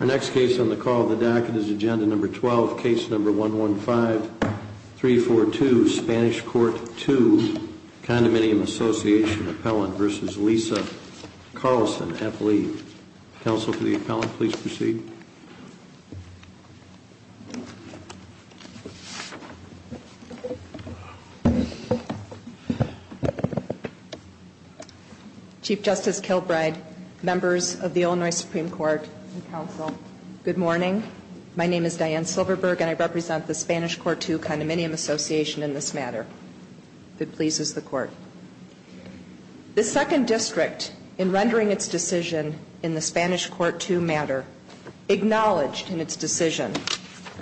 Our next case on the call of the docket is Agenda Number 12, Case Number 115-342, Spanish Court Two Condominium Association Appellant versus Lisa Carlson, F. Lee. Counsel for the appellant, please proceed. Diane Silverberg Chief Justice Kilbride, members of the Illinois Supreme Court, and counsel, good morning. My name is Diane Silverberg and I represent the Spanish Court Two Condominium Association in this matter. If it pleases the court. The second district, in rendering its decision in the Spanish Court Two matter, acknowledged in its decision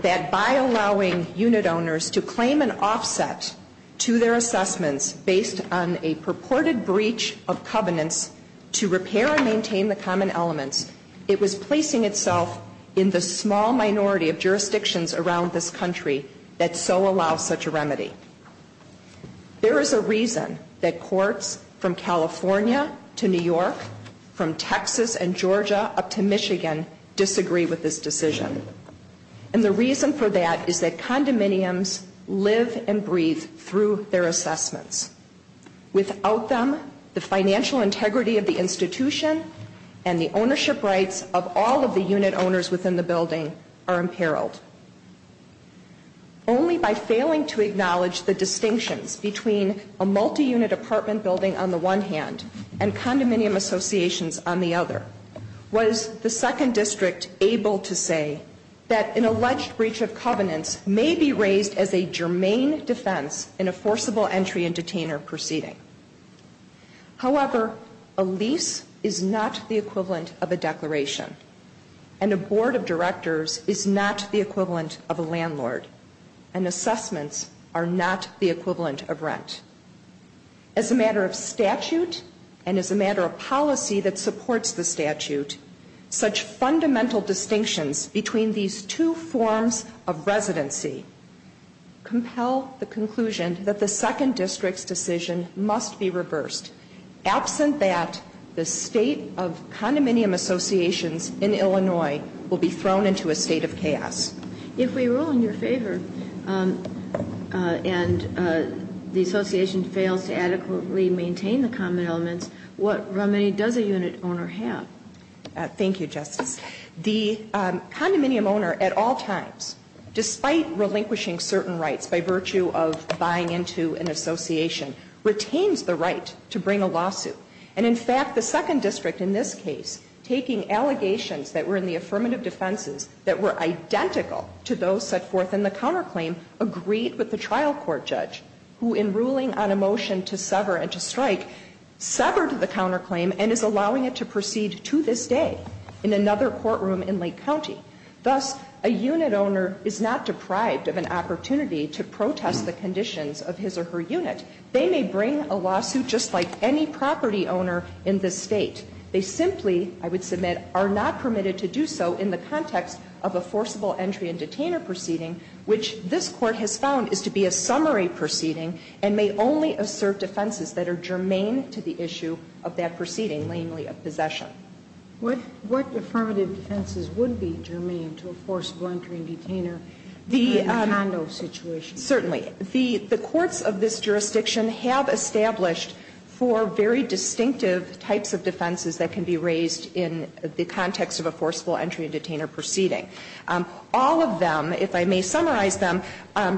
that by allowing unit owners to claim an offset to their assessments based on a purported breach of covenants to repair and maintain the common elements, it was placing itself in the small minority of jurisdictions around this country that so allow such a remedy. There is a reason that courts from California to New York, from Texas and Georgia up to Michigan disagree with this decision. And the reason for that is that condominiums live and breathe through their assessments. Without them, the financial integrity of the institution and the ownership rights of all of the unit owners within the building are imperiled. Only by failing to acknowledge the distinctions between a multi-unit apartment building on the one hand and condominium associations on the other, was the second district able to say that an alleged breach of covenants may be raised as a germane defense in a forcible entry and detainer proceeding. However, a lease is not the equivalent of a declaration. And a board of directors is not the equivalent of a landlord. And assessments are not the equivalent of rent. As a matter of statute, and as a matter of policy that supports the statute, such fundamental distinctions between these two forms of residency compel the conclusion that the second district's decision must be reversed, absent that the state of condominium associations in Illinois will be thrown into a state of chaos. If we rule in your favor and the association fails to adequately maintain the common elements, what remedy does a unit owner have? Thank you, Justice. The condominium owner at all times, despite relinquishing certain rights by virtue of buying into an association, retains the right to bring a lawsuit. And in fact, the second district in this case, taking allegations that were in the affirmative defenses that were identical to those set forth in the counterclaim, agreed with the trial court judge, who in ruling on a motion to sever and to strike, severed the counterclaim and is allowing it to proceed to this day in another courtroom in Lake County. Thus, a unit owner is not deprived of an opportunity to protest the conditions of his or her unit. They may bring a lawsuit just like any property owner in this State. They simply, I would submit, are not permitted to do so in the context of a forcible entry and detainer proceeding, which this Court has found is to be a summary proceeding and may only serve defenses that are germane to the issue of that proceeding, namely of possession. What affirmative defenses would be germane to a forcible entry and detainer in a condo situation? Certainly. The courts of this jurisdiction have established four very distinctive types of defenses that can be raised in the context of a forcible entry and detainer proceeding. All of them, if I may summarize them,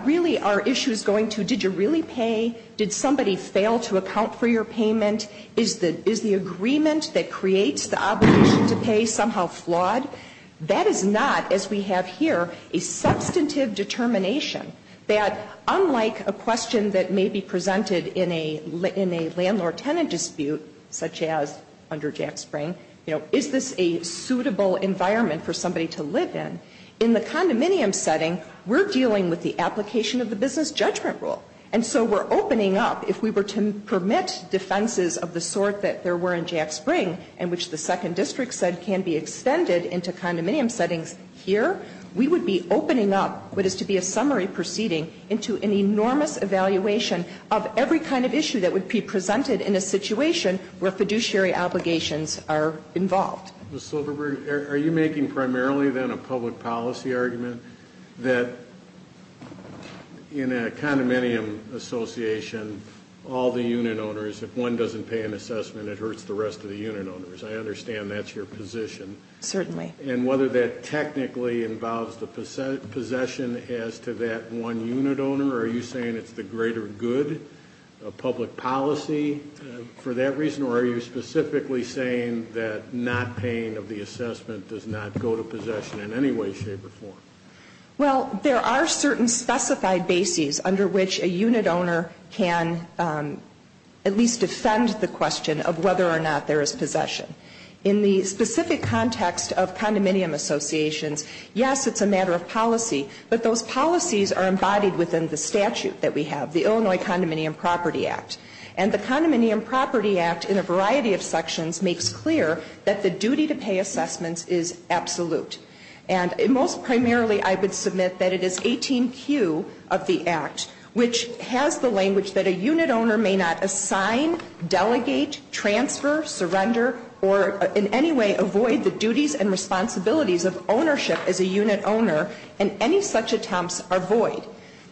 really are issues going to did you really pay? Did somebody fail to account for your payment? Is the agreement that creates the obligation to pay somehow flawed? That is not, as we have here, a substantive determination that, unlike a question that may be presented in a landlord tenant dispute, such as under Jack Spring, you know, is this a suitable environment for somebody to live in, in the condominium setting, we're dealing with the application of the business judgment rule. And so we're opening up, if we were to permit defenses of the sort that there were in Jack Spring and which the Second District said can be extended into condominium settings here, we would be opening up what is to be a summary proceeding into an enormous evaluation of every kind of issue that would be presented in a situation where fiduciary obligations are involved. Ms. Silverberg, are you making primarily then a public policy argument that in a condominium association, all the unit owners, if one doesn't pay an assessment, it hurts the rest of the unit owners? I understand that's your position. Certainly. And whether that technically involves the possession as to that one unit owner, are you saying it's the greater good of public policy for that reason, or are you specifically saying that not paying of the assessment does not go to possession in any way, shape, or form? Well, there are certain specified bases under which a unit owner can at least defend the question of whether or not there is possession. In the specific context of condominium associations, yes, it's a matter of policy, but those policies are embodied within the statute that we have, the Illinois Condominium Property Act. And the Condominium Property Act, in a variety of sections, makes clear that the duty to pay assessments is absolute. And most primarily, I would submit that it is 18Q of the Act, which has the language that a unit owner may not assign, delegate, transfer, surrender, or in any way avoid the duties and responsibilities of ownership as a unit owner, and any such attempts are void.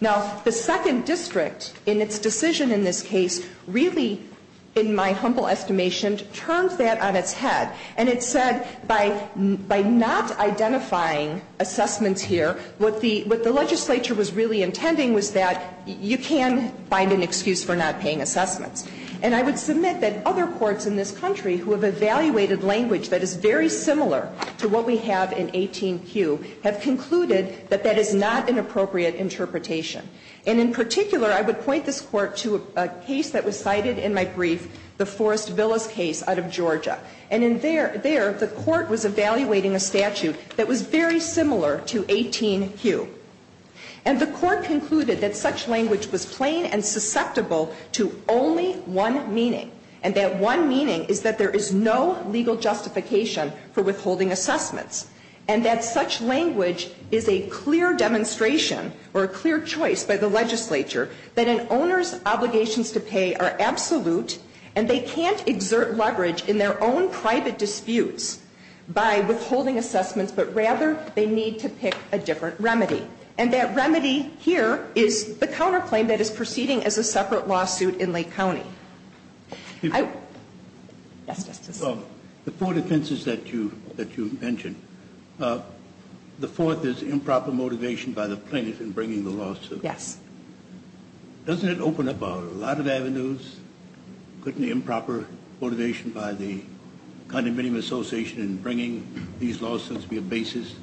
Now, the second district, in its decision in this case, really, in my humble estimation, turned that on its head, and it said by not identifying assessments here, what the legislature was really intending was that you can find an excuse for not paying assessments. And I would submit that other courts in this country who have evaluated language that is very similar to what we have in 18Q have concluded that that is not an appropriate interpretation. And in particular, I would point this Court to a case that was cited in my brief, the Forest Villas case out of Georgia. And in there, there, the Court was evaluating a statute that was very similar to 18Q. And the Court concluded that such language was plain and susceptible to only one meaning, and that one meaning is that there is no legal justification for withholding assessments, and that such language is a clear demonstration or a clear choice by the legislature that an owner's obligations to pay are absolute and they can't exert leverage in their own private disputes by withholding assessments, but rather they need to pick a different Yes, Justice. The four defenses that you mentioned, the fourth is improper motivation by the plaintiff in bringing the lawsuit. Yes. Doesn't it open up a lot of avenues? Couldn't improper motivation by the condominium association in bringing these lawsuits be a basis?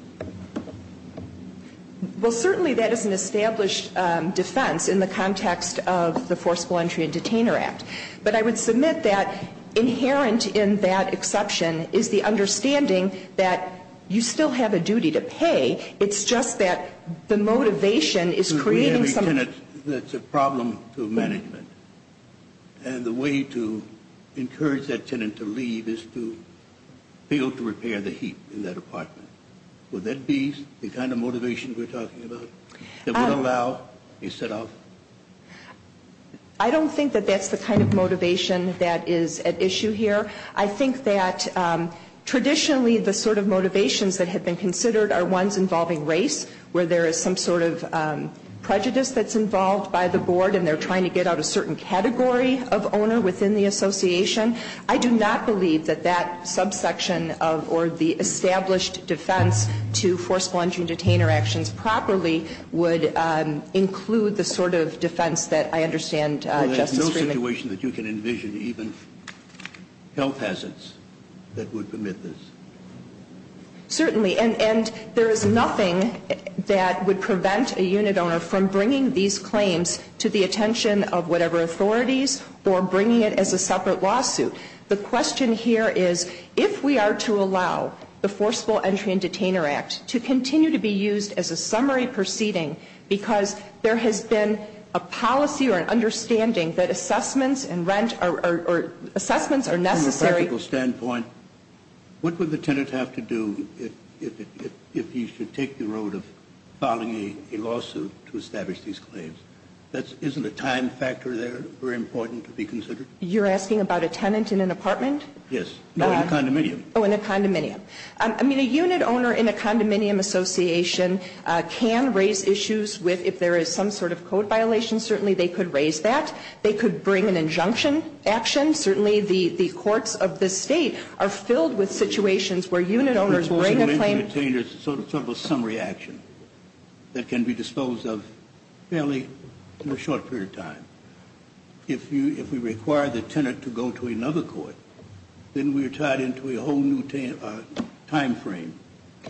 Well, certainly that is an established defense in the context of the Forcible Entry and Detainer Act. But I would submit that inherent in that exception is the understanding that you still have a duty to pay. It's just that the motivation is creating some We have a tenant that's a problem to management. And the way to encourage that tenant to leave is to fail to repair the heap in that apartment. Would that be the kind of motivation we're talking about that would allow a set-off? I don't think that that's the kind of motivation that is at issue here. I think that traditionally the sort of motivations that have been considered are ones involving race, where there is some sort of prejudice that's involved by the board and they're trying to get out a certain category of owner within the association. I do not believe that that subsection of or the established defense to Forcible Entry and Detainer actions properly would include the sort of defense that I understand, Justice Well, there's no situation that you can envision even health hazards that would permit this. Certainly. And there is nothing that would prevent a unit owner from bringing these claims to the attention of whatever authorities or bringing it as a separate lawsuit. The question here is, if we are to allow the Forcible Entry and Detainer Act to continue to be used as a summary proceeding because there has been a policy or an understanding that assessments and rent or assessments are necessary From a practical standpoint, what would the tenant have to do if he should take the road of filing a lawsuit to establish these claims? Isn't a time factor there very important to be considered? You're asking about a tenant in an apartment? Yes. Or in a condominium. Oh, in a condominium. I mean, a unit owner in a condominium association can raise issues with if there is some sort of code violation, certainly they could raise that. They could bring an injunction action. Certainly the courts of this State are filled with situations where unit owners will bring a claim The Forcible Entry and Detainer is sort of a summary action that can be disposed of fairly in a short period of time. If we require the tenant to go to another court, then we're tied into a whole new timeframe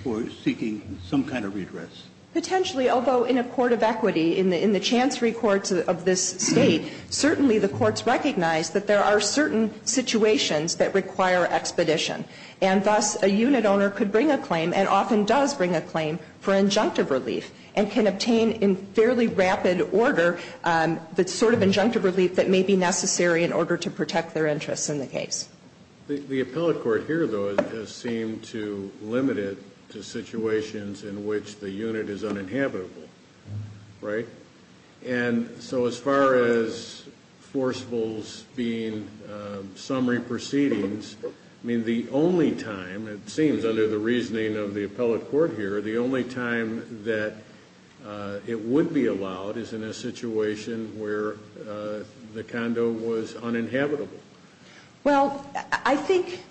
for seeking some kind of redress. Potentially, although in a court of equity, in the chancery courts of this State, certainly the courts recognize that there are certain situations that require expedition. And thus, a unit owner could bring a claim and often does bring a claim for injunctive relief and can obtain in fairly rapid order the sort of injunctive relief that may be necessary in order to protect their interests in the case. The appellate court here, though, has seemed to limit it to situations in which the unit is uninhabitable. Right? And so as far as forcefuls being summary proceedings, I mean, the only time, it seems under the reasoning of the appellate court here, the only time that it would be allowed is in a situation where the condo was uninhabitable. Well, I think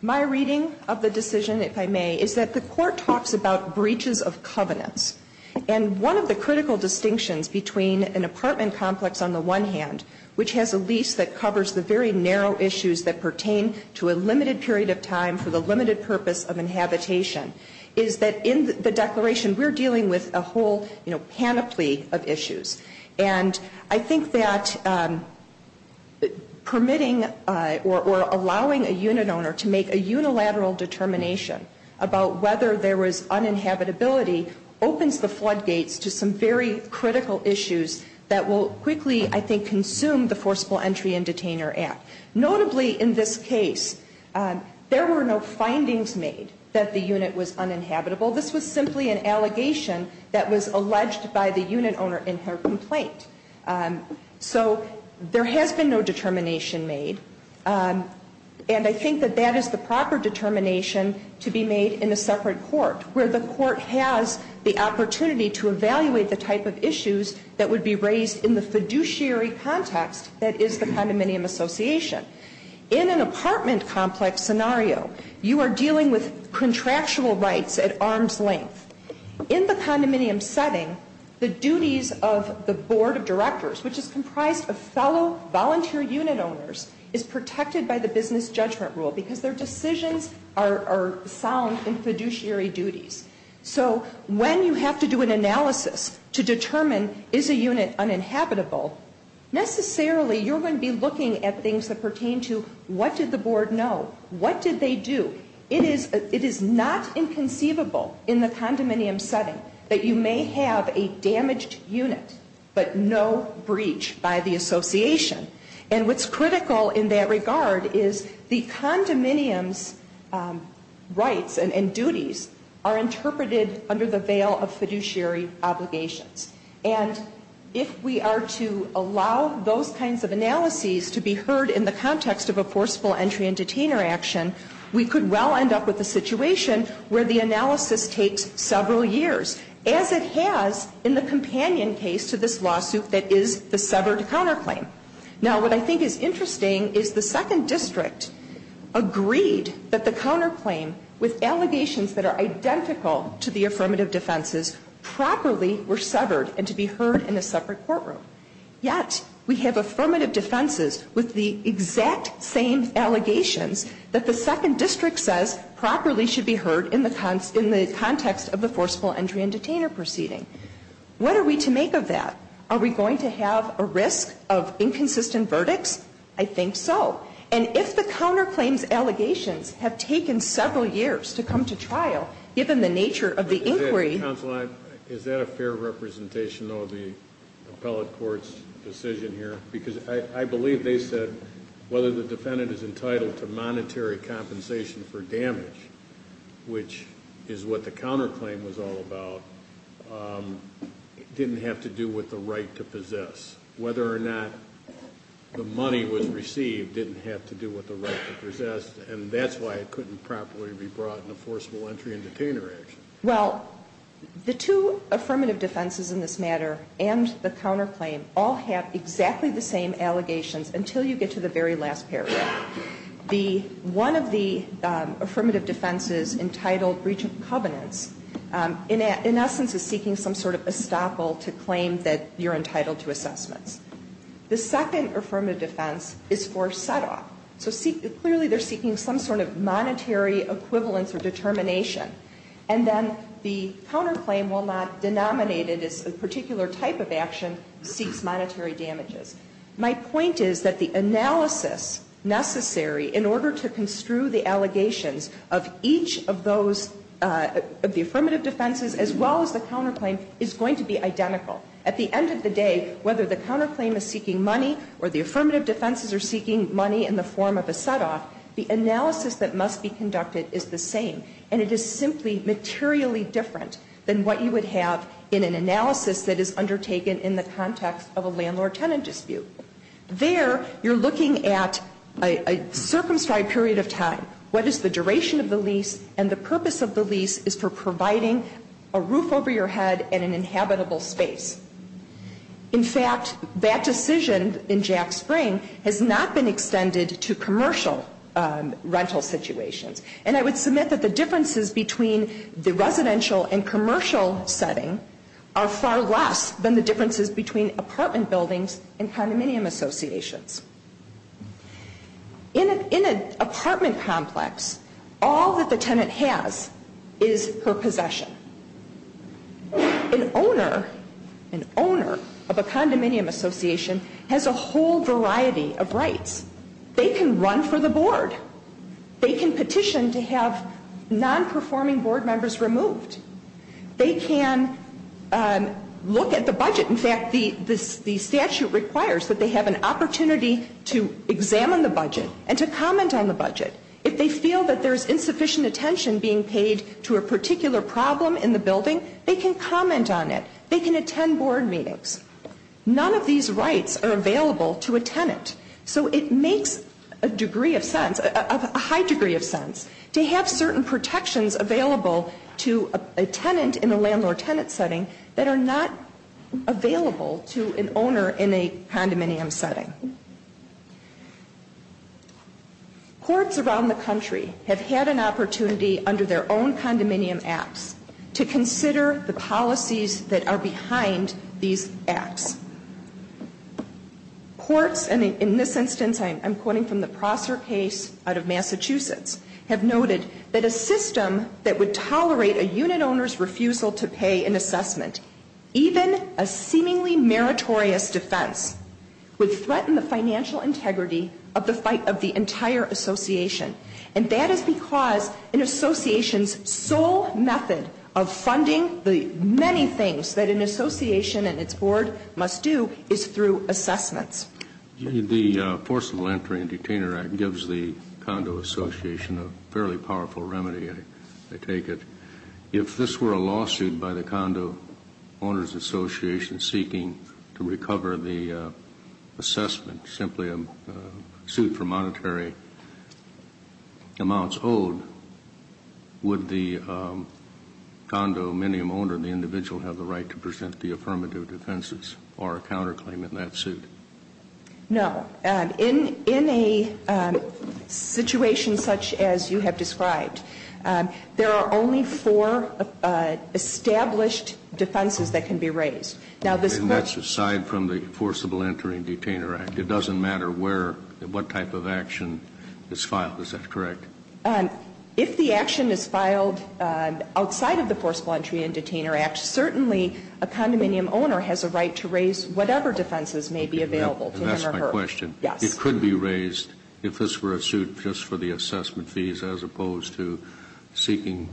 my reading of the decision, if I may, is that the court talks about breaches of covenants. And one of the critical distinctions between an apartment complex on the one hand, which has a lease that covers the very narrow issues that we're dealing with a whole panoply of issues. And I think that permitting or allowing a unit owner to make a unilateral determination about whether there was uninhabitability opens the floodgates to some very critical issues that will quickly, I think, consume the Forceful Entry and Detainer Act. Notably, in this case, there were no findings made that the unit was uninhabitable. This was simply an allegation that was alleged by the unit owner in her complaint. So there has been no determination made. And I think that that is the proper determination to be made in a separate court, where the court has the opportunity to evaluate the type of issues that would be raised in the fiduciary context that is the condominium association. In an apartment complex scenario, you are dealing with contractual rights at arm's length. In the condominium setting, the duties of the board of directors, which is comprised of fellow volunteer unit owners, is protected by the business judgment rule, because their decisions are sound in fiduciary duties. So when you have to do an analysis to determine, is a unit uninhabitable, necessarily you're going to be looking at things that pertain to, what did the board know? What did they do? It is not inconceivable in the condominium setting that you may have a damaged unit, but no breach by the association. And what's critical in that regard is the condominium's rights and duties are interpreted under the veil of fiduciary obligations. And if we are to allow those kinds of analyses to be heard in the context of a forcible entry and detainer action, we could well end up with a situation where the analysis takes several years, as it has in the companion case to this lawsuit that is the severed counterclaim. Now, what I think is interesting is the second district agreed that the counterclaim with allegations that are identical to the affirmative defenses properly were severed and to be heard in a separate courtroom. Yet, we have affirmative defenses with the exact same allegations that the second district says properly should be heard in the context of the forcible entry and detainer proceeding. What are we to make of that? Are we going to have a risk of inconsistent verdicts? I think so. And if the counterclaim's allegations have taken several years to come to trial, given the nature of the inquiry... Is that a fair representation, though, of the appellate court's decision here? Because I believe they said whether the defendant is entitled to monetary compensation for damage, which is what the counterclaim was all about, didn't have to do with the right to possess. Whether or not the money was received didn't have to do with the right to possess. And that's why it couldn't properly be brought in a forcible entry and detainer action. Well, the two affirmative defenses in this matter and the counterclaim all have exactly the same allegations until you get to the very last paragraph. The one of the affirmative defenses entitled breach of covenants in essence is seeking some sort of estoppel to claim that you're entitled to clearly they're seeking some sort of monetary equivalence or determination. And then the counterclaim, while not denominated as a particular type of action, seeks monetary damages. My point is that the analysis necessary in order to construe the allegations of each of those, of the affirmative defenses, as well as the counterclaim, is going to be identical. At the end of the day, whether the counterclaim is seeking money or the affirmative defenses are seeking money in the form of a set-off, the analysis that must be conducted is the same. And it is simply materially different than what you would have in an analysis that is undertaken in the context of a landlord-tenant dispute. There, you're looking at a circumscribed period of time. What is the duration of the lease? And the purpose of the lease is for providing a roof over your head and an inhabitable space. In fact, that decision in Jack Spring has not been extended to commercial rental situations. And I would submit that the differences between the residential and commercial setting are far less than the differences between apartment buildings and condominium associations. In an apartment complex, all that the tenant has is her possession. And the owner, an owner of a condominium association has a whole variety of rights. They can run for the board. They can petition to have non-performing board members removed. They can look at the budget. In fact, the statute requires that they have an opportunity to examine the budget and to comment on the budget. If they feel that there's insufficient attention being paid to a particular problem in the building, they can comment on it. They can attend board meetings. None of these rights are available to a tenant. So it makes a degree of sense, a high degree of sense, to have certain protections available to a tenant in a landlord-tenant setting that are not available to an owner in a condominium setting. Courts around the country have had an opportunity under their own condominium acts to consider the policies that are behind these acts. Courts, and in this instance I'm quoting from the Prosser case out of Massachusetts, have noted that a system that would tolerate a unit owner's refusal to pay an assessment, even a single assessment, would undermine the financial integrity of the fight of the entire association. And that is because an association's sole method of funding the many things that an association and its board must do is through assessments. The Forcible Entry and Detainer Act gives the Condo Association a fairly powerful remedy, I take it. If this were a lawsuit by the Condo Owners Association seeking to recover the assessment, simply a suit for monetary amounts owed, would the condominium owner, the individual, have the right to present the affirmative defenses or a counter claim in that suit? No. In a situation such as you have described, there are only four established defenses that can be raised. Now this question And that's aside from the Forcible Entry and Detainer Act. It doesn't matter where or what type of action is filed, is that correct? If the action is filed outside of the Forcible Entry and Detainer Act, certainly a condominium owner has a right to raise whatever defenses may be available to him or her. That's my question. Yes. It could be raised if this were a suit just for the assessment fees as opposed to seeking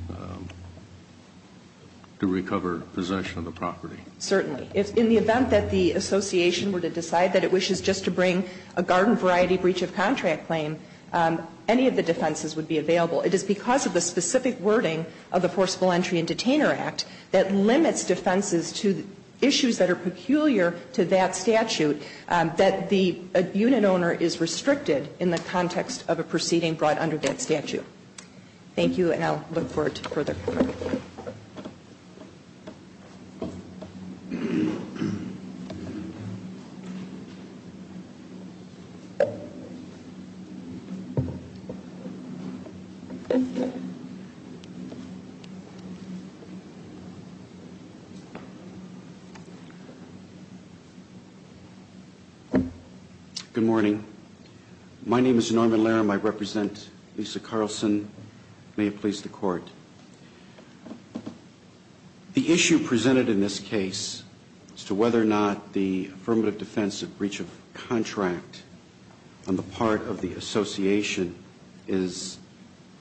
to recover possession of the property. Certainly. If in the event that the association were to decide that it wishes just to bring a garden variety breach of contract claim, any of the defenses would be available. It is because of the specific wording of the Forcible Entry and Detainer Act that limits defenses to issues that are peculiar to that statute that the unit owner is restricted in the context of a proceeding brought under that statute. Thank you and I'll look forward to further comment. Good morning. My name is Norman Larum. I represent Lisa Carlson. May it please the Court. The issue presented in this case as to whether or not the affirmative defense of breach of contract on the part of the association is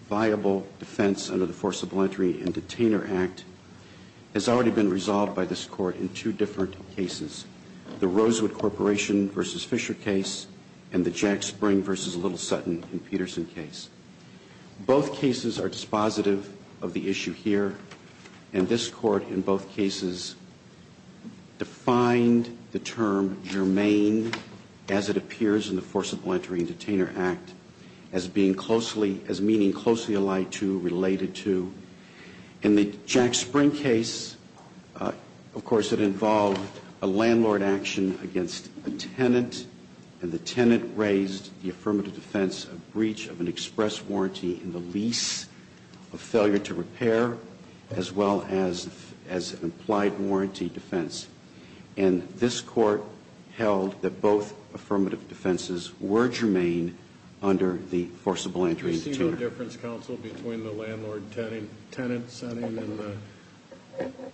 viable defense under the Forcible Entry and Detainer Act has already been resolved by this Court in two different cases. The Rosewood Corporation v. Fisher case and the Jack Spring v. Little Sutton and Peterson case. Both cases are dispositive of the issue here and this Court in both cases defined the term germane as it appears in the Forcible Entry and Detainer Act as being closely, as meaning closely allied to, related to. In the Jack Spring case, of course, it involved a landlord action against a tenant and the tenant raised the affirmative defense of breach of an express warranty in the lease of failure to repair as well as an implied warranty defense. And this Court held that both affirmative defenses were germane under the Forcible Entry and Detainer Act. Do you see no difference, Counsel, between the landlord-tenant setting and the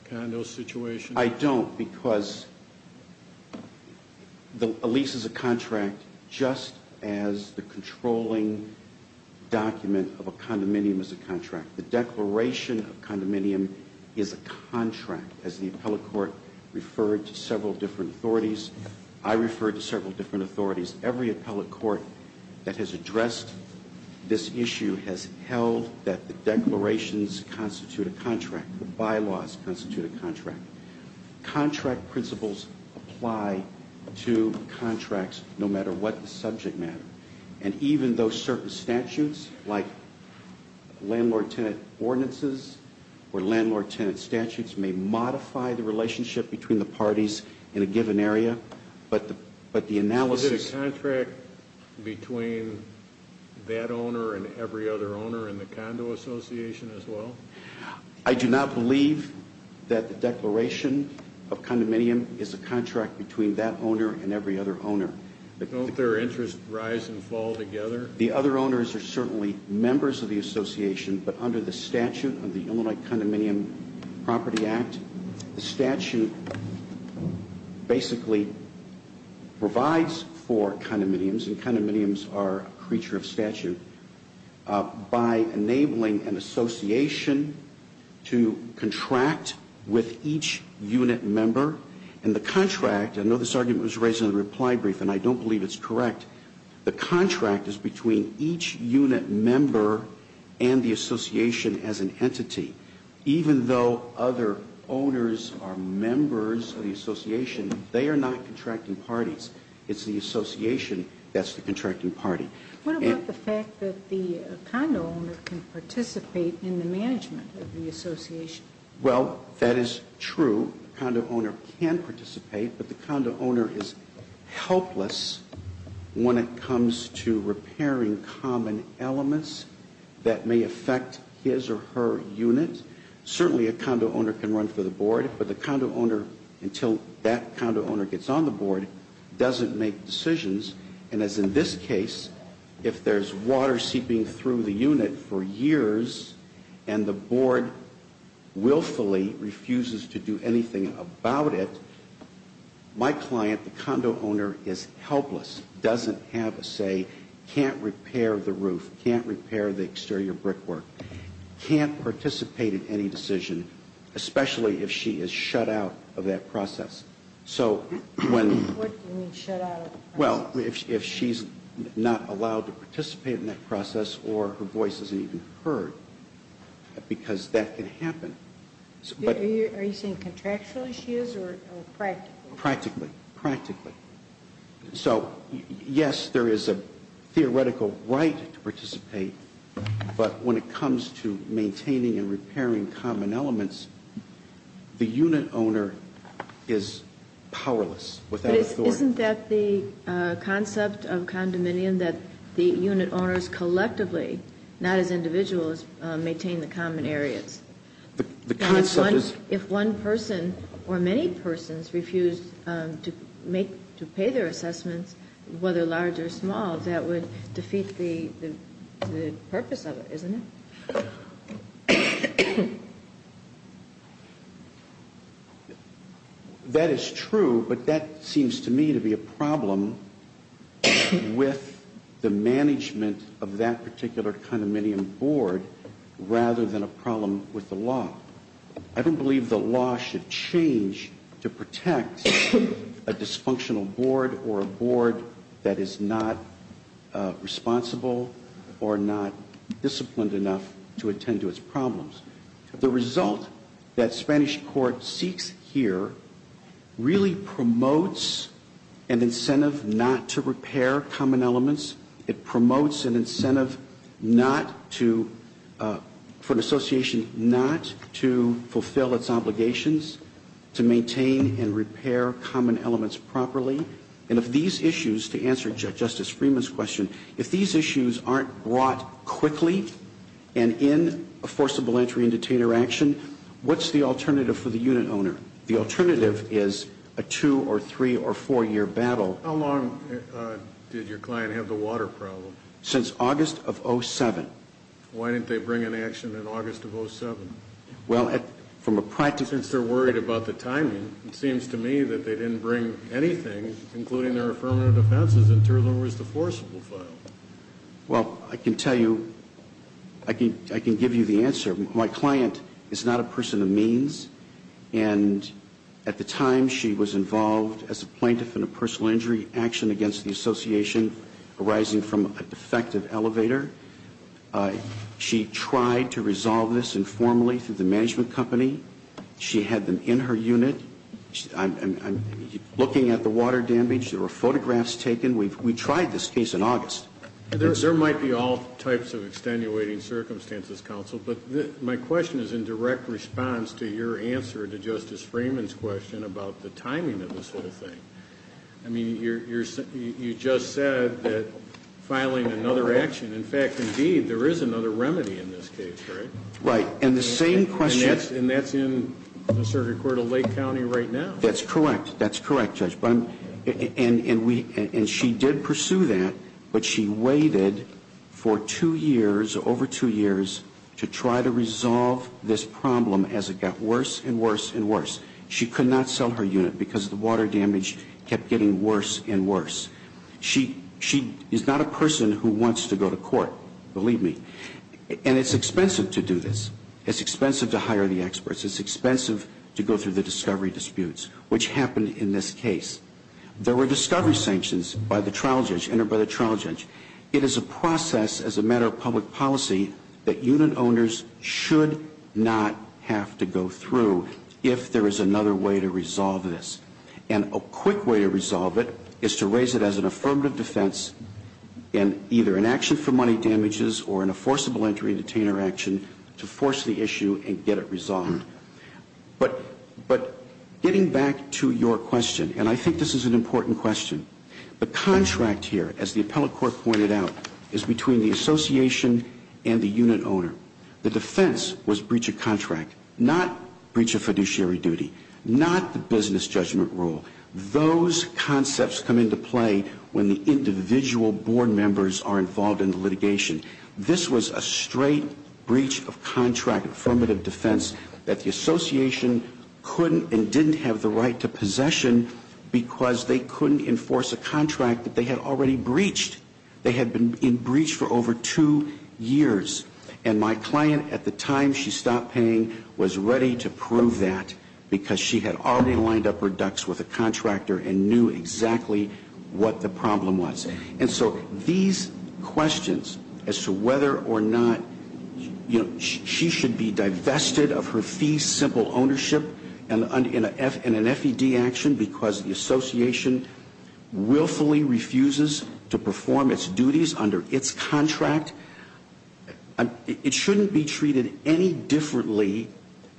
condo situation? I don't because a lease is a contract just as the controlling document of a condominium is a contract. The declaration of a condominium is a contract, as the appellate court referred to several different authorities. I referred to several different authorities. Every appellate court that has addressed this issue has held that the declarations constitute a contract, the bylaws constitute a contract. Contract principles apply to contracts no matter what the subject matter. And even though certain statutes like landlord-tenant ordinances or landlord-tenant statutes may modify the relationship between the parties in a given area, but the analysis Is it a contract between that owner and every other owner in the condo association as well? I do not believe that the declaration of condominium is a contract between that owner and every other owner. Don't their interests rise and fall together? The other owners are certainly members of the association, but under the statute of the Illinois Condominium Property Act, the statute basically provides for condominiums, and condominiums are a creature of statute, by enabling an association to contract with each unit member. And the contract, I know this argument was raised in the reply brief, and I don't believe it's correct, the contract is between each unit member and the association as an entity. Even though other owners are members of the association, they are not contracting parties. It's the association that's the contracting party. What about the fact that the condo owner can participate in the management of the association? Well, that is true. The condo owner can participate, but the condo owner is helpless when it comes to certainly a condo owner can run for the board, but the condo owner, until that condo owner gets on the board, doesn't make decisions. And as in this case, if there's water seeping through the unit for years and the board willfully refuses to do anything about it, my client, the condo owner, is helpless, doesn't have a say, can't repair the roof, can't repair the exterior brickwork. Can't participate in any decision, especially if she is shut out of that process. So when... What do you mean shut out of the process? Well, if she's not allowed to participate in that process or her voice isn't even heard, because that can happen. Are you saying contractually she is or practically? Practically. Practically. So, yes, there is a theoretical right to participate, but when it comes to maintaining and repairing common elements, the unit owner is powerless, without authority. Isn't that the concept of condominium, that the unit owners collectively, not as individuals, maintain the common areas? The concept is... whether large or small, that would defeat the purpose of it, isn't it? That is true, but that seems to me to be a problem with the management of that particular condominium board rather than a problem with the law. I don't believe the law should change to protect a dysfunctional board or a board that is not responsible or not disciplined enough to attend to its problems. The result that Spanish court seeks here really promotes an incentive not to repair common elements. It promotes an incentive for an association not to fulfill its obligations to maintain and repair common elements properly. And if these issues, to answer Justice Freeman's question, if these issues aren't brought quickly and in a forcible entry and detainer action, what's the alternative for the unit owner? The alternative is a two- or three- or four-year battle. How long did your client have the water problem? Since August of 07. Why didn't they bring an action in August of 07? Well, from a practice... Since they're worried about the timing, it seems to me that they didn't bring anything, including their affirmative offenses, until there was the forcible file. Well, I can tell you, I can give you the answer. My client is not a person of means, and at the time she was involved as a plaintiff in a personal injury action against the association arising from a defective elevator. She tried to resolve this informally through the management company. She had them in her unit. I'm looking at the water damage. There were photographs taken. We tried this case in August. There might be all types of extenuating circumstances, counsel, but my question is in direct response to your answer to Justice Freeman's question about the filing another action. In fact, indeed, there is another remedy in this case, correct? Right. And the same question... And that's in the circuit court of Lake County right now. That's correct. That's correct, Judge. And she did pursue that, but she waited for two years, over two years, to try to resolve this problem as it got worse and worse and worse. She could not sell her unit because the water damage kept getting worse and worse. She is not a person who wants to go to court, believe me. And it's expensive to do this. It's expensive to hire the experts. It's expensive to go through the discovery disputes, which happened in this case. There were discovery sanctions by the trial judge, entered by the trial judge. It is a process as a matter of public policy that unit owners should not have to go through if there is another way to resolve this. And a quick way to resolve it is to raise it as an affirmative defense in either an action for money damages or in a forcible entry detainer action to force the issue and get it resolved. But getting back to your question, and I think this is an important question, the contract here, as the appellate court pointed out, is between the association and the unit owner. The defense was breach of contract, not breach of fiduciary duty, not the business judgment rule. Those concepts come into play when the individual board members are involved in litigation. This was a straight breach of contract affirmative defense that the association couldn't and didn't have the right to possession because they couldn't enforce a contract that they had already breached. They had been in breach for over two years. And my client at the time she stopped paying was ready to prove that because she had already lined up her ducks with a contractor and knew exactly what the problem was. And so these questions as to whether or not she should be divested of her fee simple ownership in an FED action because the association willfully refuses to It shouldn't be treated any differently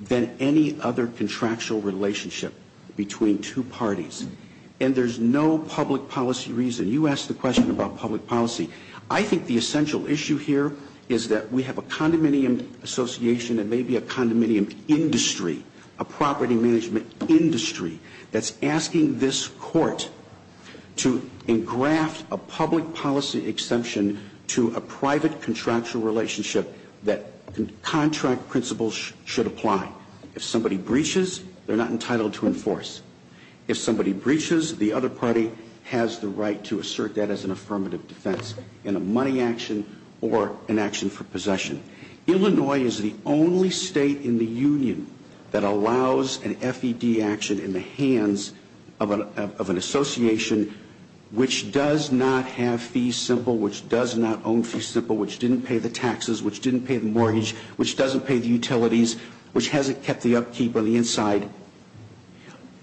than any other contractual relationship between two parties. And there's no public policy reason. You asked the question about public policy. I think the essential issue here is that we have a condominium association and maybe a condominium industry, a property management industry that's asking this contract principles should apply. If somebody breaches, they're not entitled to enforce. If somebody breaches, the other party has the right to assert that as an affirmative defense in a money action or an action for possession. Illinois is the only state in the union that allows an FED action in the hands of an association which does not have fee simple, which does not own fee simple, which didn't pay the taxes, which didn't pay the mortgage, which doesn't pay the utilities, which hasn't kept the upkeep on the inside.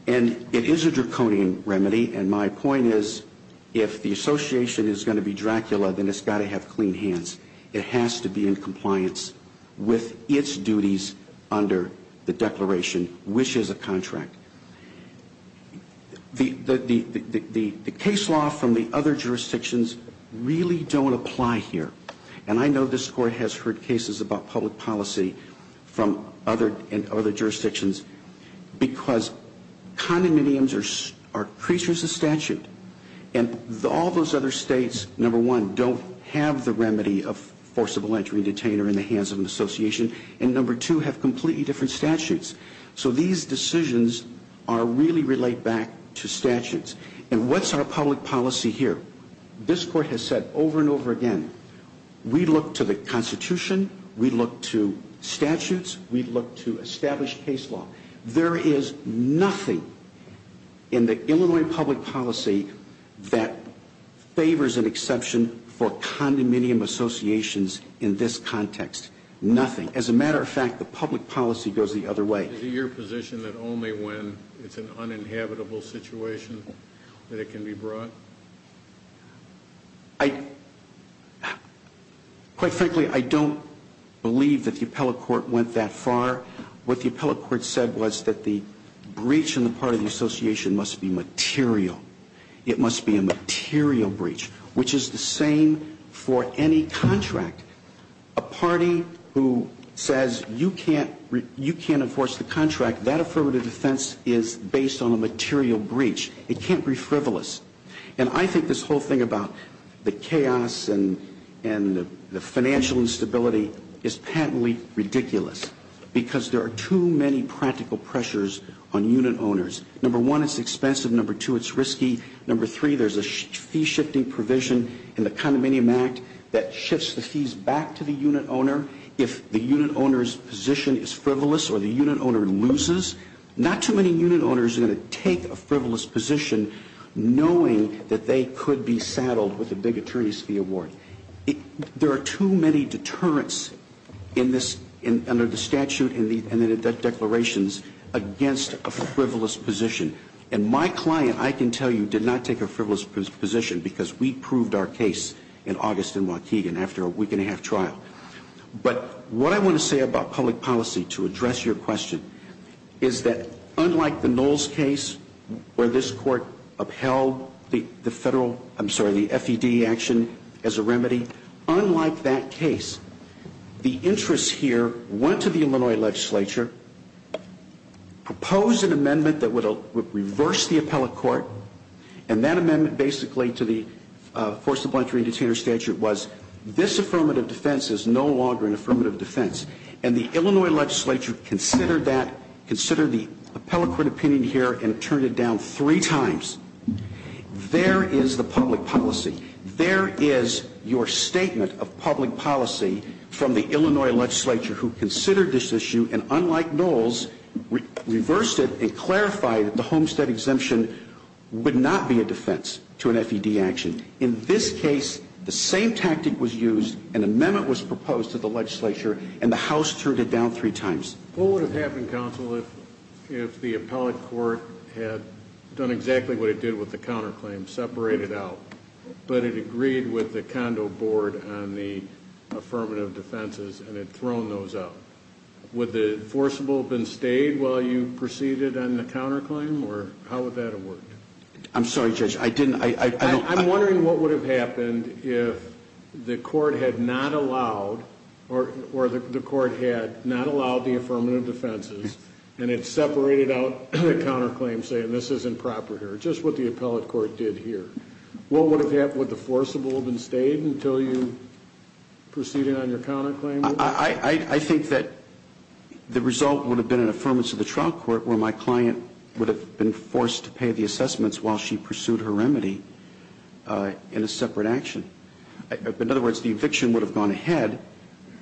And it is a draconian remedy. And my point is if the association is going to be Dracula, then it's got to have clean hands. It has to be in compliance with its duties under the declaration, which is a contract. The case law from the other jurisdictions really don't apply here. And I know this Court has heard cases about public policy from other jurisdictions because condominiums are creatures of statute. And all those other states, number one, don't have the remedy of forcible entry and detainer in the hands of an association. And number two, have completely different statutes. So these decisions really relate back to statutes. And what's our public policy here? This Court has said over and over again, we look to the Constitution, we look to statutes, we look to established case law. There is nothing in the Illinois public policy that favors an exception for condominium associations in this context. Nothing. And as a matter of fact, the public policy goes the other way. Is it your position that only when it's an uninhabitable situation that it can be brought? Quite frankly, I don't believe that the appellate court went that far. What the appellate court said was that the breach on the part of the association must be material. It must be a material breach, which is the same for any contract. A party who says you can't enforce the contract, that affirmative defense is based on a material breach. It can't be frivolous. And I think this whole thing about the chaos and the financial instability is patently ridiculous because there are too many practical pressures on unit owners. Number one, it's expensive. Number two, it's risky. Number three, there's a fee-shifting provision in the Condominium Act that shifts the fees back to the unit owner if the unit owner's position is frivolous or the unit owner loses. Not too many unit owners are going to take a frivolous position knowing that they could be saddled with a big attorney's fee award. There are too many deterrents under the statute and the declarations against a frivolous position. And my client, I can tell you, did not take a frivolous position because we But what I want to say about public policy to address your question is that unlike the Knowles case where this court upheld the FED action as a remedy, unlike that case, the interest here went to the Illinois legislature, proposed an amendment that would reverse the appellate court, and that amendment basically to the was this affirmative defense is no longer an affirmative defense. And the Illinois legislature considered that, considered the appellate court opinion here, and turned it down three times. There is the public policy. There is your statement of public policy from the Illinois legislature who considered this issue and, unlike Knowles, reversed it and clarified that the Homestead exemption would not be a defense to an FED action. In this case, the same tactic was used. An amendment was proposed to the legislature, and the House turned it down three times. What would have happened, counsel, if the appellate court had done exactly what it did with the counterclaim, separated out, but it agreed with the condo board on the affirmative defenses and had thrown those out? Would the forcible have been stayed while you proceeded on the counterclaim, or how would that have worked? I'm sorry, Judge. I'm wondering what would have happened if the court had not allowed or the court had not allowed the affirmative defenses and it separated out the counterclaim saying this isn't proper here, just what the appellate court did here. What would have happened? Would the forcible have been stayed until you proceeded on your counterclaim? I think that the result would have been an affirmance of the trial court where my client would have been forced to pay the assessments while she pursued her remedy in a separate action. In other words, the eviction would have gone ahead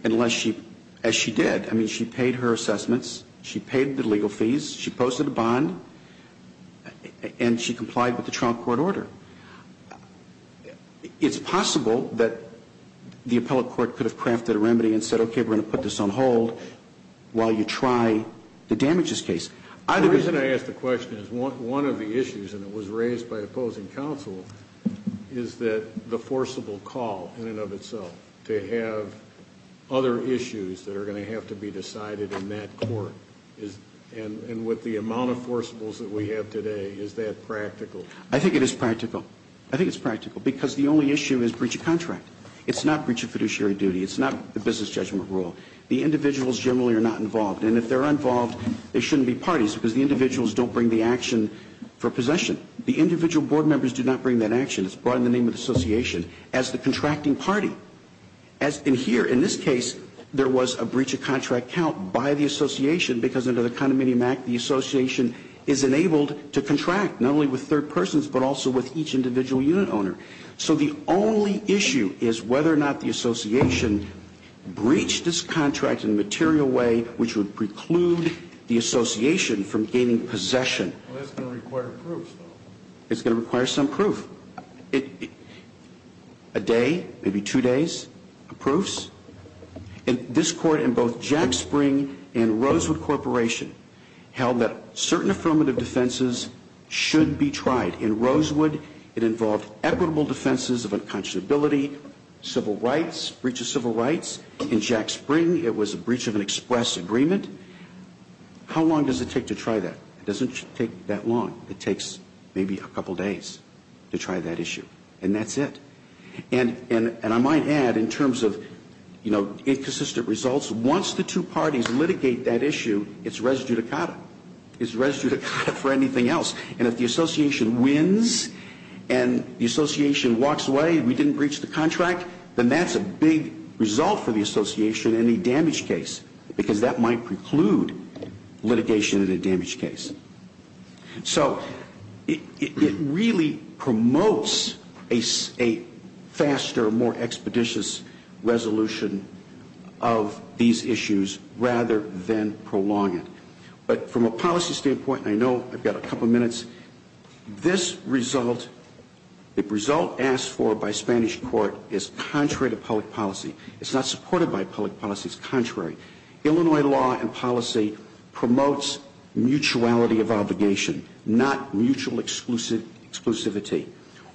unless she, as she did, she paid her assessments, she paid the legal fees, she posted a bond, and she complied with the trial court order. It's possible that the appellate court could have crafted a remedy and said, okay, we're going to put this on hold while you try to damage this case. The reason I ask the question is one of the issues, and it was raised by opposing counsel, is that the forcible call in and of itself to have other issues that are going to have to be decided in that court, and with the amount of forcibles that we have today, is that practical? I think it is practical. I think it's practical because the only issue is breach of contract. It's not breach of fiduciary duty. It's not the business judgment rule. The individuals generally are not involved, and if they're involved, they shouldn't be parties because the individuals don't bring the action for possession. The individual board members do not bring that action. It's brought in the name of the association as the contracting party. And here, in this case, there was a breach of contract count by the association because under the Condominium Act, the association is enabled to contract not only with third persons but also with each individual unit owner. So the only issue is whether or not the association breached this contract in a material way which would preclude the association from gaining possession. Well, that's going to require proof, though. It's going to require some proof. A day, maybe two days of proofs. And this Court, in both Jack Spring and Rosewood Corporation, held that certain affirmative defenses should be tried. In Rosewood, it involved equitable defenses of unconscionability, civil rights, breach of civil rights. In Jack Spring, it was a breach of an express agreement. How long does it take to try that? It doesn't take that long. It takes maybe a couple days to try that issue. And that's it. And I might add, in terms of, you know, inconsistent results, once the two parties litigate that issue, it's res judicata. It's res judicata for anything else. And if the association wins and the association walks away, we didn't breach the contract, then that's a big result for the association in a damage case, because that might preclude litigation in a damage case. So it really promotes a faster, more expeditious resolution of these issues rather than prolong it. But from a policy standpoint, and I know I've got a couple minutes, this result, the result asked for by Spanish court is contrary to public policy. It's not supported by public policy. It's contrary. Illinois law and policy promotes mutuality of obligation, not mutual exclusivity,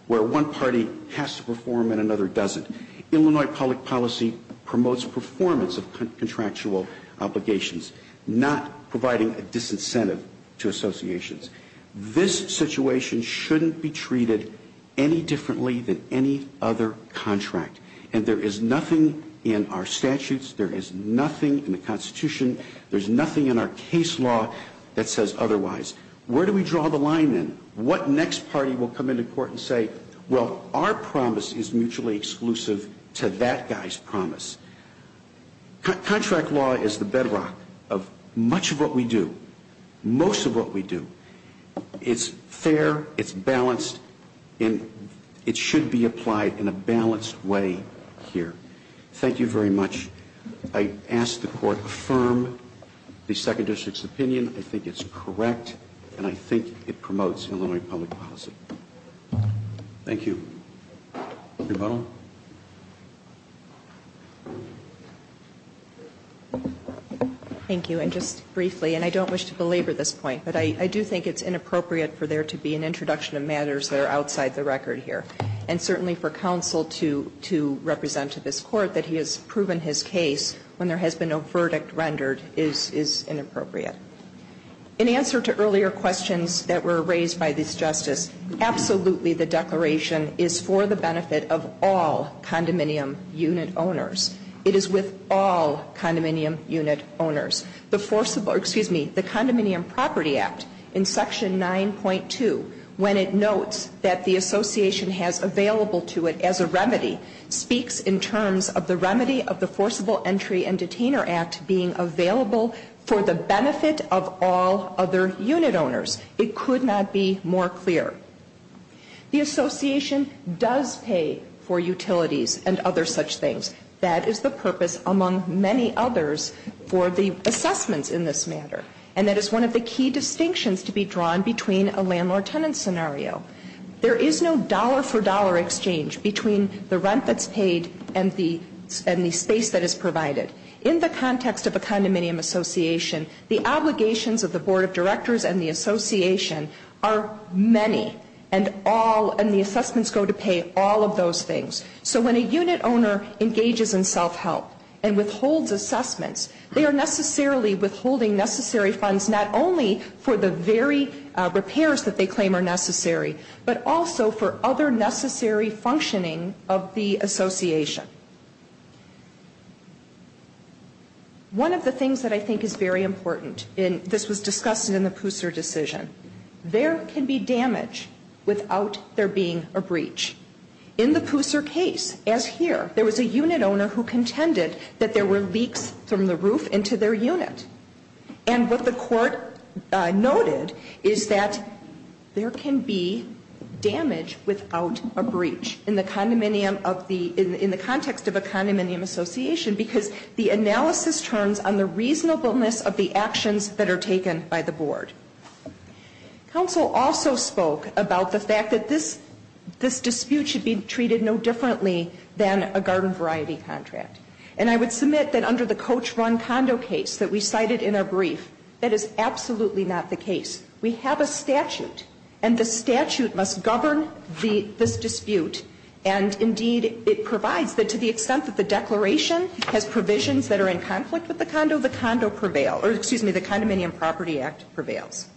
where one party has to perform and another doesn't. Illinois public policy promotes performance of contractual obligations, not providing a disincentive to associations. This situation shouldn't be treated any differently than any other contract. And there is nothing in our statutes, there is nothing in the Constitution, there's nothing in our case law that says otherwise. Where do we draw the line then? What next party will come into court and say, well, our promise is mutually exclusive to that guy's promise? Contract law is the bedrock of much of what we do, most of what we do. It's fair, it's balanced, and it should be applied in a balanced way here. Thank you very much. I ask the court affirm the Second District's opinion. I think it's correct, and I think it promotes Illinois public policy. Thank you. Rebuttal. Thank you. And just briefly, and I don't wish to belabor this point, but I do think it's inappropriate for there to be an introduction of matters that are outside the record here. And certainly for counsel to represent to this court that he has proven his case when there has been no verdict rendered is inappropriate. In answer to earlier questions that were raised by this Justice, absolutely the declaration is for the benefit of all condominium unit owners. It is with all condominium unit owners. The Condominium Property Act in Section 9.2, when it notes that the association has available to it as a remedy, speaks in terms of the remedy of the Forcible Entry and Detainer Act being available for the benefit of all other unit owners. It could not be more clear. The association does pay for utilities and other such things. That is the purpose, among many others, for the assessments in this matter. And that is one of the key distinctions to be drawn between a landlord-tenant scenario. There is no dollar-for-dollar exchange between the rent that's paid and the space that is provided. In the context of a condominium association, the obligations of the Board of Directors and the association are many, and the assessments go to pay all of those things. So when a unit owner engages in self-help and withholds assessments, they are necessarily withholding necessary funds not only for the very repairs that they claim are necessary, but also for other necessary functioning of the association. One of the things that I think is very important, and this was discussed in the Puser decision, there can be damage without there being a breach. In the Puser case, as here, there was a unit owner who contended that there were leaks from the roof into their unit. And what the court noted is that there can be damage without a breach in the condominium of the in the context of a condominium association, because the analysis turns on the reasonableness of the actions that are taken by the board. Counsel also spoke about the fact that this dispute should be treated no differently than a garden variety contract. And I would submit that under the coach-run condo case that we cited in our brief, that is absolutely not the case. We have a statute, and the statute must govern this dispute, and indeed it provides that to the extent that the declaration has provisions that are in conflict with the condo, the condo prevails, or excuse me, the Condominium Property Act prevails.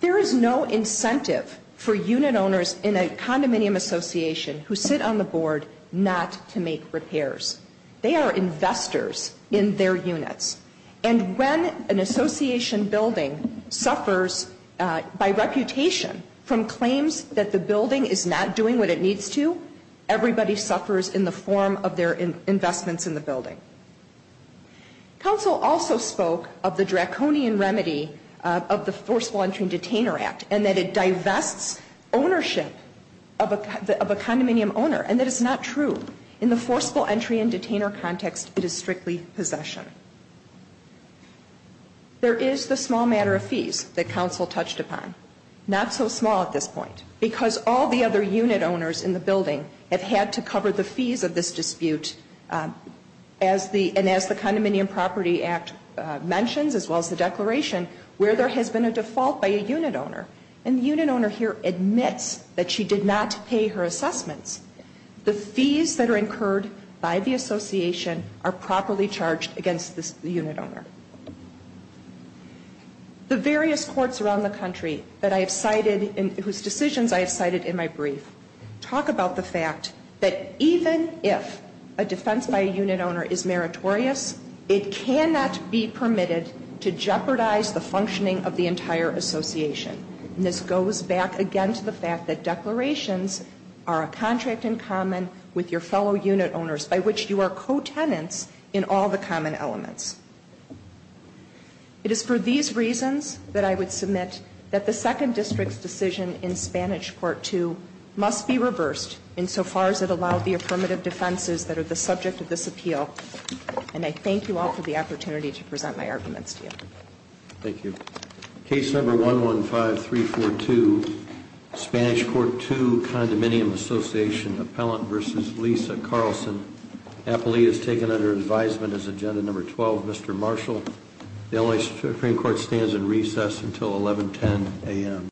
There is no incentive for unit owners in a condominium association who sit on the board not to make repairs. They are investors in their units. And when an association building suffers by reputation from claims that the building is not doing what it needs to, everybody suffers in the form of their investments in the building. Counsel also spoke of the draconian remedy of the Forceful Entry and Detainer Act, and that it divests ownership of a condominium owner, and that it's not true. In the Forceful Entry and Detainer context, it is strictly possession. There is the small matter of fees that counsel touched upon, not so small at this point, because all the other unit owners in the building have had to cover the fees of this dispute, and as the Condominium Property Act mentions, as well as the declaration, where there has been a default by a unit owner, and the unit owner here admits that she did not pay her assessments, the fees that are incurred by the association are properly charged against the unit owner. The various courts around the country whose decisions I have cited in my brief talk about the fact that even if a defense by a unit owner is meritorious, it cannot be permitted to jeopardize the functioning of the entire association. And this goes back again to the fact that declarations are a contract in common with your fellow unit owners, by which you are co-tenants in all the common elements. It is for these reasons that I would submit that the Second District's decision in Spanish Part 2 must be reversed insofar as it allowed the affirmative defenses that are the subject of this appeal, and I thank you all for the opportunity to present my arguments to you. Thank you. Case number 115342, Spanish Court 2, Condominium Association, Appellant v. Lisa Carlson. Appellee is taken under advisement as agenda number 12, Mr. Marshall. The LA Supreme Court stands in recess until 1110 a.m.